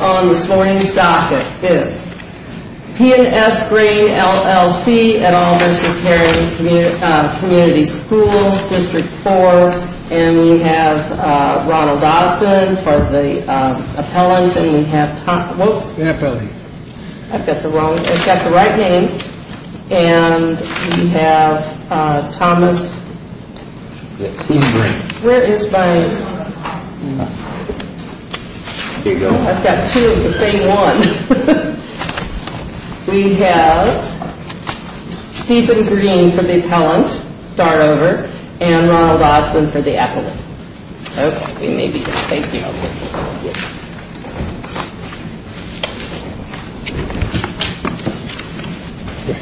on this morning's docket is P & S Grain, LLC, et al. v. Herrin Community School, District 4 and we have Ronald Osmond for the appellant and we have Thomas... Who's the appellant? I've got the wrong... I've got the right name. And we have Thomas... Yes, he's green. Where is my... Here you go. I've got two of the same one. We have Stephen Green for the appellant, start over, and Ronald Osmond for the appellant. Okay, we may be good. Thank you.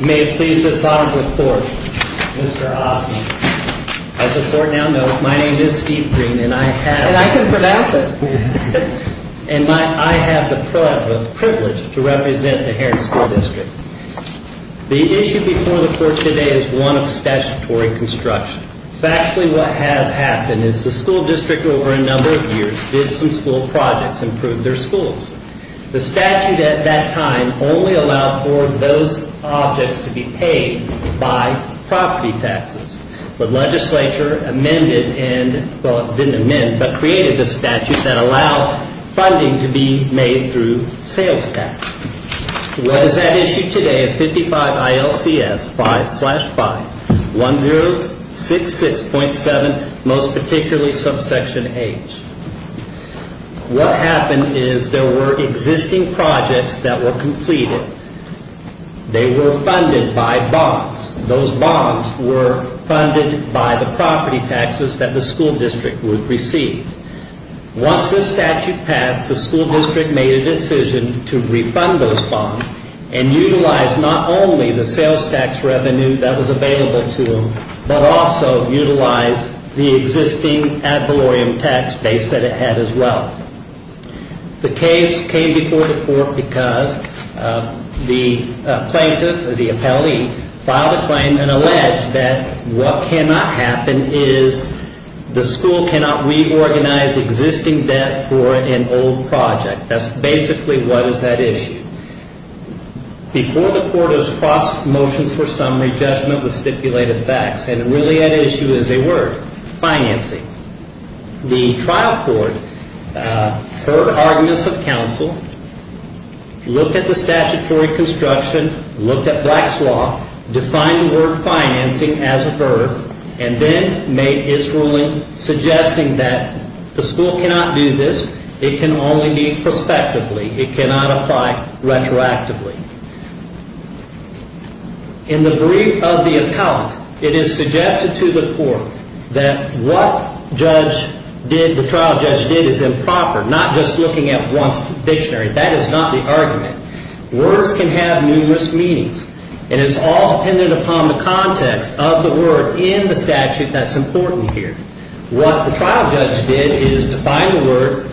May it please the court, Mr. Osmond. As the court now knows, my name is Steve Green and I have... And I can pronounce it. And I have the privilege to represent the Herrin School District. The issue before the court today is one of statutory construction. Factually what has happened is the school district over a number of years did some school projects and proved their schools. The statute at that time only allowed for those objects to be paid by property taxes. The legislature amended and... Well, it didn't amend, but created the statute that allowed funding to be made through sales tax. What is at issue today is 55 ILCS 5 slash 5, 1066.7, most particularly subsection H. What happened is there were existing projects that were completed. They were funded by bonds. Those bonds were funded by the property taxes that the school district would receive. Once the statute passed, the school district made a decision to refund those bonds and utilize not only the sales tax revenue that was available to them, but also utilize the existing ad valorem tax base that it had as well. The case came before the court because the plaintiff or the appellee filed a claim and alleged that what cannot happen is the school cannot reorganize existing debt for an old project. That's basically what is at issue. Before the court has crossed motions for summary judgment with stipulated facts, and really at issue is a word, financing. The trial court heard arguments of counsel, looked at the statutory construction, looked at Black's Law, defined the word financing as a verb, and then made its ruling suggesting that the school cannot do this. It can only be prospectively. It cannot apply retroactively. In the brief of the appellant, it is suggested to the court that what the trial judge did is improper, not just looking at one's dictionary. That is not the argument. Words can have numerous meanings, and it's all dependent upon the context of the word in the statute that's important here. What the trial judge did is define the word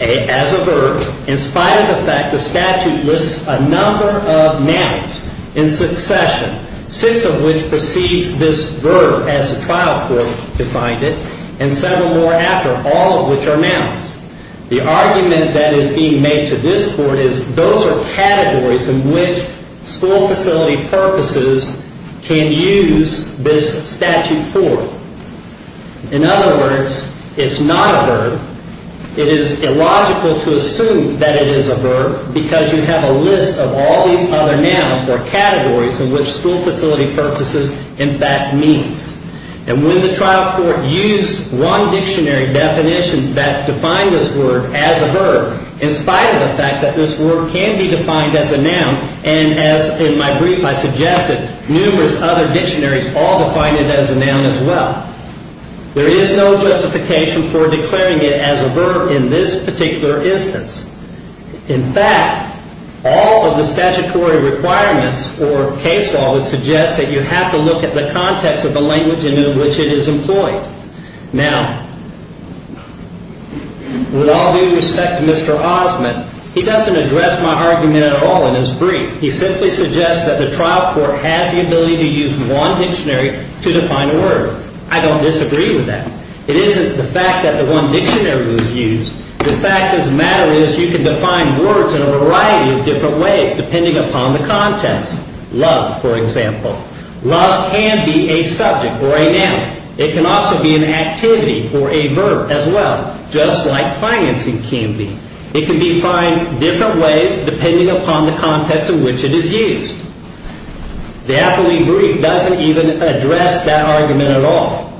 as a verb. In spite of the fact the statute lists a number of nouns in succession, six of which precedes this verb as the trial court defined it, and several more after, all of which are nouns. The argument that is being made to this court is those are categories in which school facility purposes can use this statute for. In other words, it's not a verb. It is illogical to assume that it is a verb because you have a list of all these other nouns or categories in which school facility purposes, in fact, means. And when the trial court used one dictionary definition that defined this word as a verb, in spite of the fact that this word can be defined as a noun, and as in my brief I suggested, numerous other dictionaries all define it as a noun as well, there is no justification for declaring it as a verb in this particular instance. In fact, all of the statutory requirements for case law would suggest that you have to look at the context of the language in which it is employed. Now, with all due respect to Mr. Osmond, he doesn't address my argument at all in his brief. He simply suggests that the trial court has the ability to use one dictionary to define a word. I don't disagree with that. It isn't the fact that the one dictionary was used. The fact of the matter is you can define words in a variety of different ways depending upon the context. Love, for example. Love can be a subject or a noun. It can also be an activity or a verb as well, just like financing can be. It can be defined different ways depending upon the context in which it is used. The Appellee Brief doesn't even address that argument at all.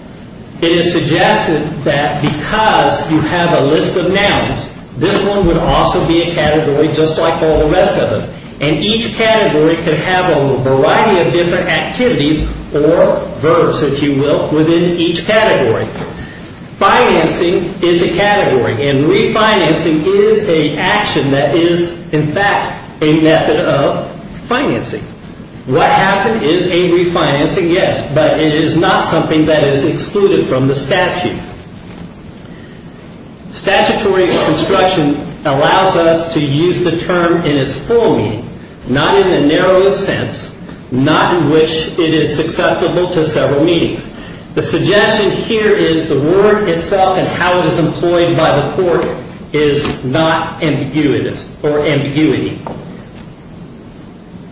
It is suggested that because you have a list of nouns, this one would also be a category just like all the rest of them, and each category could have a variety of different activities or verbs, if you will, within each category. Financing is a category, and refinancing is an action that is, in fact, a method of financing. What happened is a refinancing, yes, but it is not something that is excluded from the statute. Statutory construction allows us to use the term in its full meaning, not in the narrowest sense, not in which it is susceptible to several meanings. The suggestion here is the word itself and how it is employed by the court is not ambiguous or ambiguity.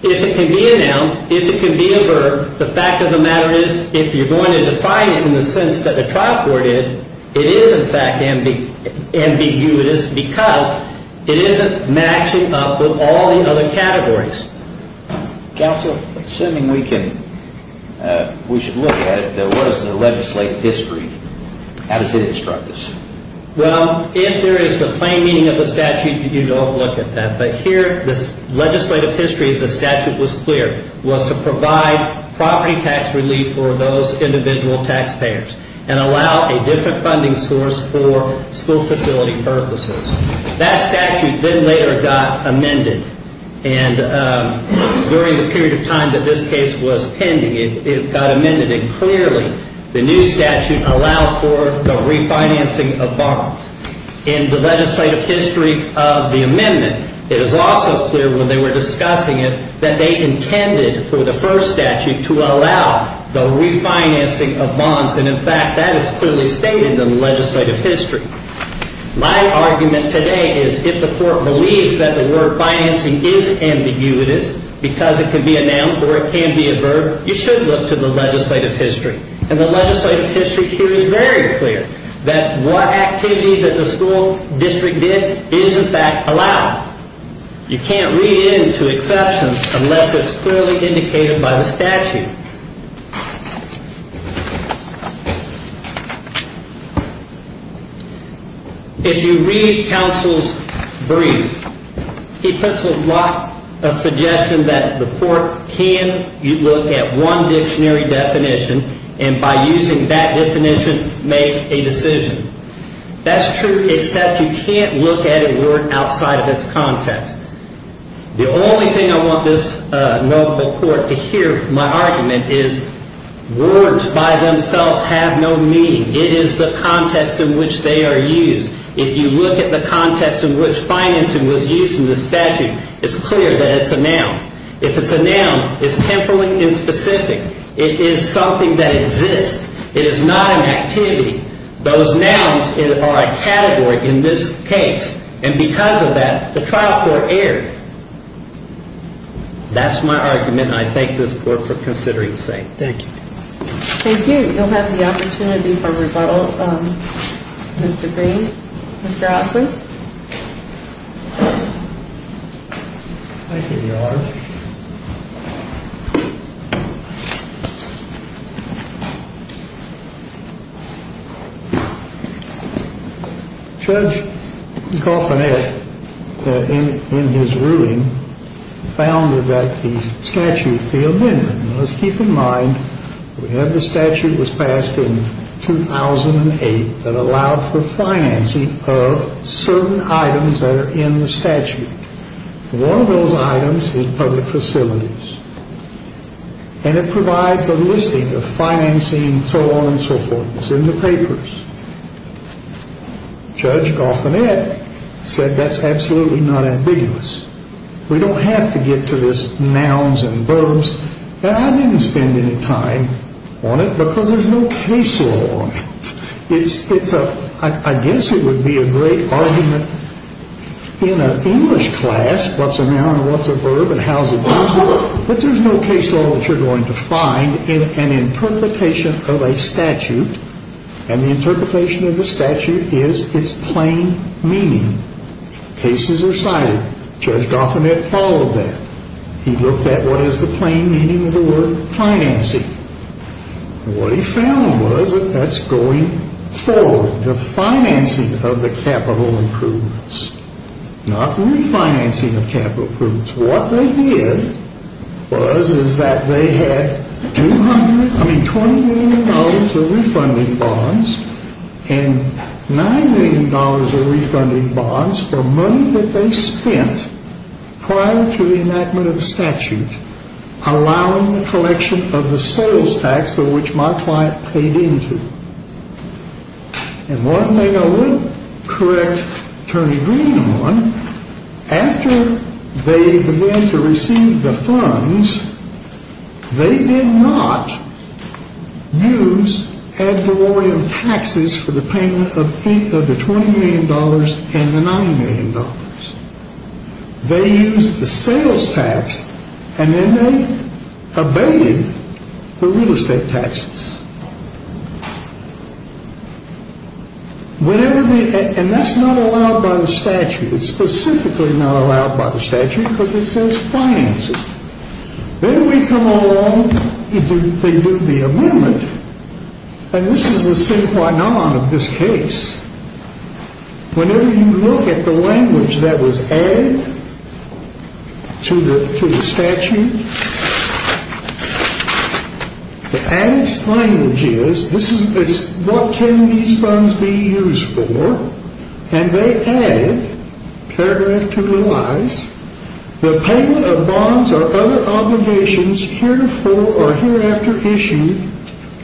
If it can be a noun, if it can be a verb, the fact of the matter is if you are going to define it in the sense that the trial court did, it is in fact ambiguous because it isn't matching up with all the other categories. Counsel, assuming we can, we should look at it, what is the legislative history? How does it instruct us? Well, if there is the plain meaning of the statute, you don't look at that. But here, the legislative history of the statute was clear, was to provide property tax relief for those individual taxpayers and allow a different funding source for school facility purposes. That statute then later got amended, and during the period of time that this case was pending, it got amended. And clearly, the new statute allows for the refinancing of bonds. In the legislative history of the amendment, it is also clear when they were discussing it that they intended for the first statute to allow the refinancing of bonds. And in fact, that is clearly stated in the legislative history. My argument today is if the court believes that the word financing is ambiguous because it can be a noun or it can be a verb, you should look to the legislative history. And the legislative history here is very clear that what activity that the school district did is in fact allowed. You can't read into exceptions unless it's clearly indicated by the statute. If you read counsel's brief, he puts a lot of suggestion that the court can look at one dictionary definition and by using that definition make a decision. That's true except you can't look at a word outside of its context. The only thing I want this notable court to hear my argument is words by themselves have no meaning. It is the context in which they are used. If you look at the context in which financing was used in the statute, it's clear that it's a noun. If it's a noun, it's temporally specific. It is something that exists. It is not an activity. Those nouns are a category in this case. And because of that, the trial court erred. That's my argument. I thank this court for considering the saying. Thank you. Thank you. You'll have the opportunity for rebuttal, Mr. Green. Thank you. Mr. Osler. Thank you, Your Honor. Judge Kauffman in his ruling found that the statute failed him. Let's keep in mind we have the statute was passed in 2008 that allowed for financing of certain items that are in the statute. One of those items is public facilities. And it provides a listing of financing and so on and so forth. It's in the papers. Judge Kauffman said that's absolutely not ambiguous. We don't have to get to this nouns and verbs. And I didn't spend any time on it because there's no case law on it. I guess it would be a great argument in an English class, what's a noun and what's a verb and how's it useful. But there's no case law that you're going to find in an interpretation of a statute. And the interpretation of the statute is it's plain meaning. Cases are cited. Judge Kauffman had followed that. He looked at what is the plain meaning of the word financing. What he found was that that's going forward, the financing of the capital improvements, not refinancing of capital improvements. What they did was is that they had $20 million of refunding bonds and $9 million of refunding bonds for money that they spent prior to the enactment of the statute, allowing the collection of the sales tax for which my client paid into. And one thing I would correct Attorney Green on, after they began to receive the funds, they did not use ad valorem taxes for the payment of the $20 million and the $9 million. They used the sales tax and then they abated the real estate taxes. And that's not allowed by the statute. It's specifically not allowed by the statute because it says financing. Then we come along, they do the amendment. And this is the sin qua non of this case. Whenever you look at the language that was added to the statute, the added language is, what can these funds be used for? And they add, paragraph 2 relies, the payment of bonds or other obligations heretofore or hereafter issued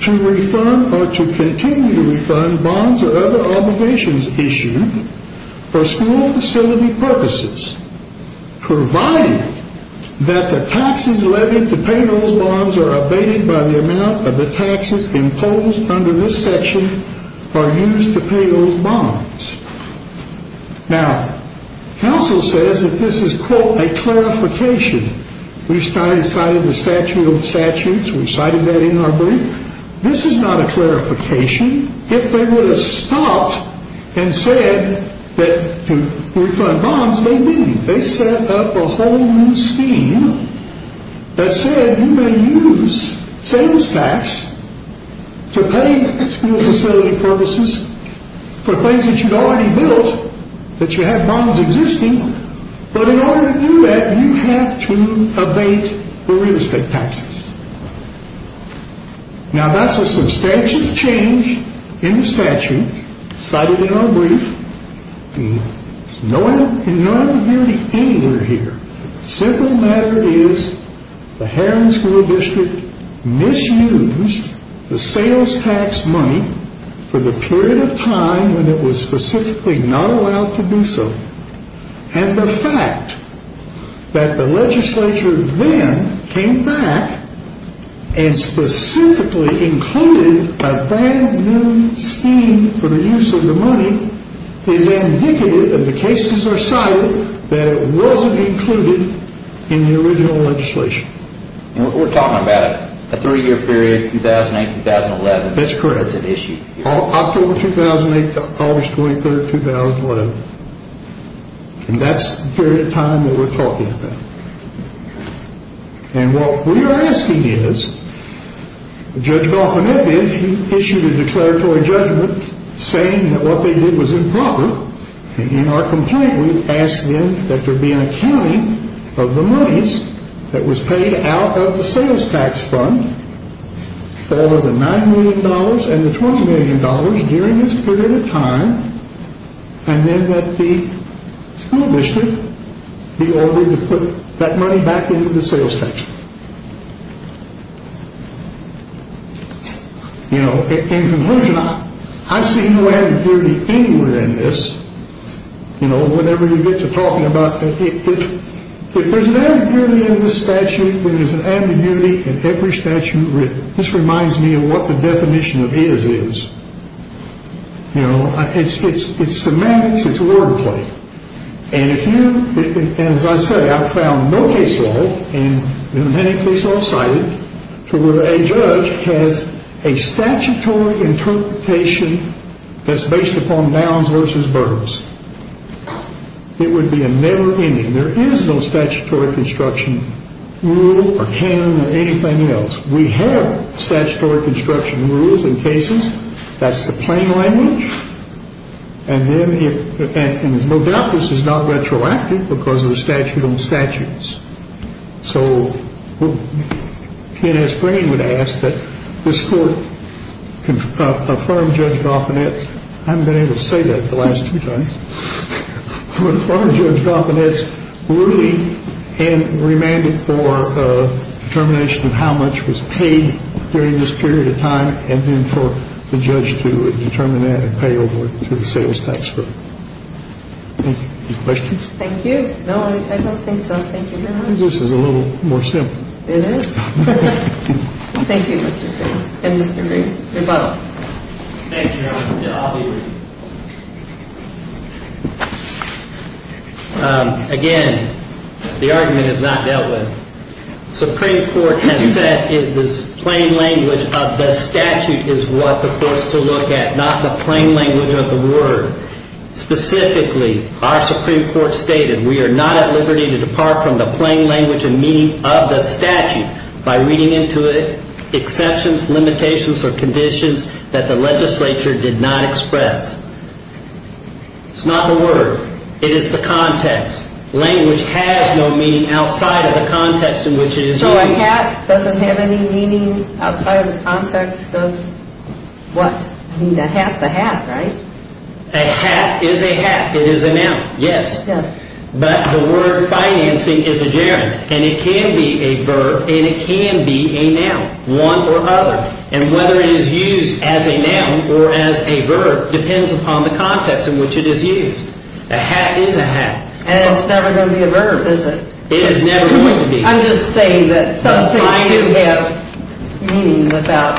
to refund or to continue to refund bonds or other obligations issued for school facility purposes, provided that the taxes levied to pay those bonds are abated by the amount of the taxes imposed under this section or used to pay those bonds. Now, counsel says that this is, quote, a clarification. We've cited the statute, old statutes. We've cited that in our brief. This is not a clarification. If they would have stopped and said that to refund bonds, they didn't. They set up a whole new scheme that said you may use sales tax to pay school facility purposes for things that you'd already built, that you had bonds existing. But in order to do that, you have to abate the real estate taxes. Now, that's a substantial change in the statute cited in our brief. No ambiguity anywhere here. The simple matter is the Heron School District misused the sales tax money for the period of time when it was specifically not allowed to do so. And the fact that the legislature then came back and specifically included a brand new scheme for the use of the money is indicative that the cases are cited that it wasn't included in the original legislation. We're talking about a three-year period, 2008-2011. That's correct. October 2008 to August 23, 2011. And that's the period of time that we're talking about. And what we are asking is, Judge Goffman has issued a declaratory judgment saying that what they did was improper. In our complaint, we ask then that there be an accounting of the monies that was paid out of the sales tax fund for the $9 million and the $20 million during this period of time, and then that the school district be ordered to put that money back into the sales tax. In conclusion, I see no ambiguity anywhere in this, whatever you get to talking about. If there's an ambiguity in this statute, there is an ambiguity in every statute written. This reminds me of what the definition of is is. It's semantics. It's wordplay. And as I said, I've found no case law, and there are many case laws cited, to where a judge has a statutory interpretation that's based upon downs versus burns. It would be a never-ending. There is no statutory construction rule or canon or anything else. We have statutory construction rules in cases. That's the plain language. And then there's no doubt this is not retroactive because of the statute on statutes. So PNS Greenwood asked that this Court confirm Judge Goffman, I haven't been able to say that the last few times, confirm Judge Goffman's ruling and remanded for determination of how much was paid during this period of time and then for the judge to determine that and pay over to the sales tax firm. Any questions? Thank you. No, I don't think so. Thank you very much. This is a little more simple. It is. Thank you, Mr. Green. And Mr. Green, rebuttal. Thank you, Your Honor. I'll be brief. Again, the argument is not dealt with. The Supreme Court has said this plain language of the statute is what the Court is to look at, not the plain language of the word. Specifically, our Supreme Court stated we are not at liberty to depart from the plain language and meaning of the statute by reading into it exceptions, limitations, or conditions that the legislature did not express. It's not the word. It is the context. Language has no meaning outside of the context in which it is used. So a hat doesn't have any meaning outside of the context of what? I mean, a hat's a hat, right? A hat is a hat. It is a noun, yes. Yes. But the word financing is a gerund, and it can be a verb, and it can be a noun, one or other. And whether it is used as a noun or as a verb depends upon the context in which it is used. A hat is a hat. And it's never going to be a verb, is it? It is never going to be. I'm just saying that some things do have meaning without...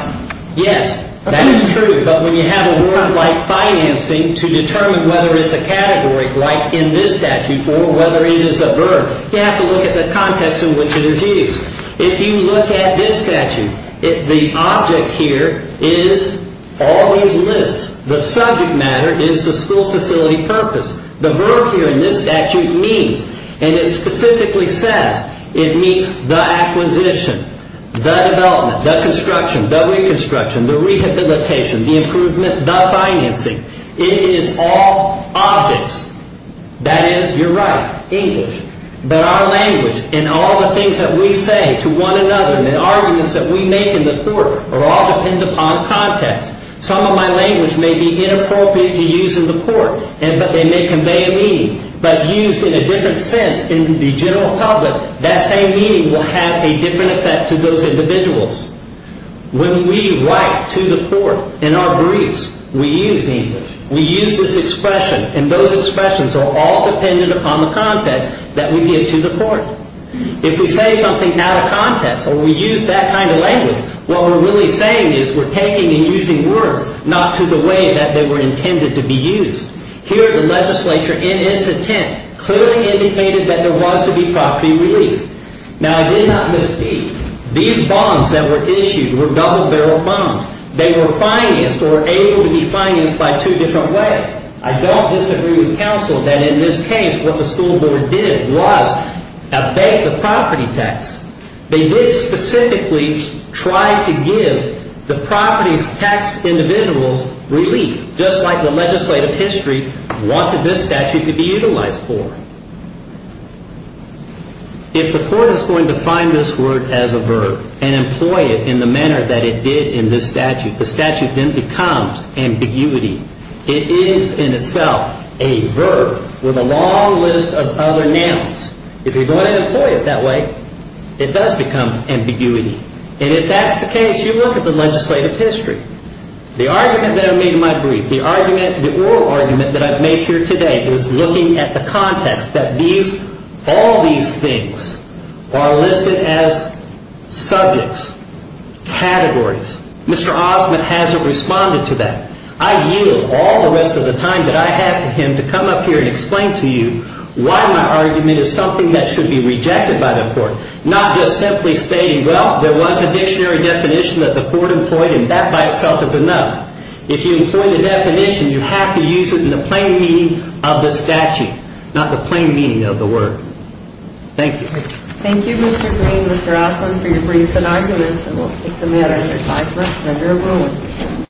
Yes, that is true. But when you have a word like financing to determine whether it's a category, like in this statute, or whether it is a verb, you have to look at the context in which it is used. If you look at this statute, the object here is all these lists. The subject matter is the school facility purpose. The verb here in this statute means, and it specifically says, it means the acquisition, the development, the construction, the reconstruction, the rehabilitation, the improvement, the financing. It is all objects. That is, you're right, English. But our language and all the things that we say to one another and the arguments that we make in the court are all dependent upon context. Some of my language may be inappropriate to use in the court, and they may convey a meaning. But used in a different sense in the general public, that same meaning will have a different effect to those individuals. When we write to the court in our briefs, we use English. We use this expression, and those expressions are all dependent upon the context that we give to the court. If we say something out of context or we use that kind of language, what we're really saying is we're taking and using words not to the way that they were intended to be used. Here, the legislature, in its intent, clearly indicated that there was to be property relief. Now, I did not misspeak. These bonds that were issued were double-barrel bonds. They were financed or able to be financed by two different ways. I don't disagree with counsel that in this case what the school board did was abate the property tax. They did specifically try to give the property tax individuals relief, just like the legislative history wanted this statute to be utilized for. If the court is going to find this word as a verb and employ it in the manner that it did in this statute, the statute then becomes ambiguity. It is in itself a verb with a long list of other nouns. If you're going to employ it that way, it does become ambiguity. And if that's the case, you look at the legislative history. The argument that I made in my brief, the oral argument that I've made here today is looking at the context that all these things are listed as subjects, categories. Mr. Osment hasn't responded to that. I yield all the rest of the time that I have to him to come up here and explain to you why my argument is something that should be rejected by the court, not just simply stating, well, there was a dictionary definition that the court employed, and that by itself is enough. If you employ the definition, you have to use it in the plain meaning of the statute, not the plain meaning of the word. Thank you. Thank you, Mr. Green, Mr. Osment, for your briefs and arguments. And we'll take the matter as advised by Senator Wolin.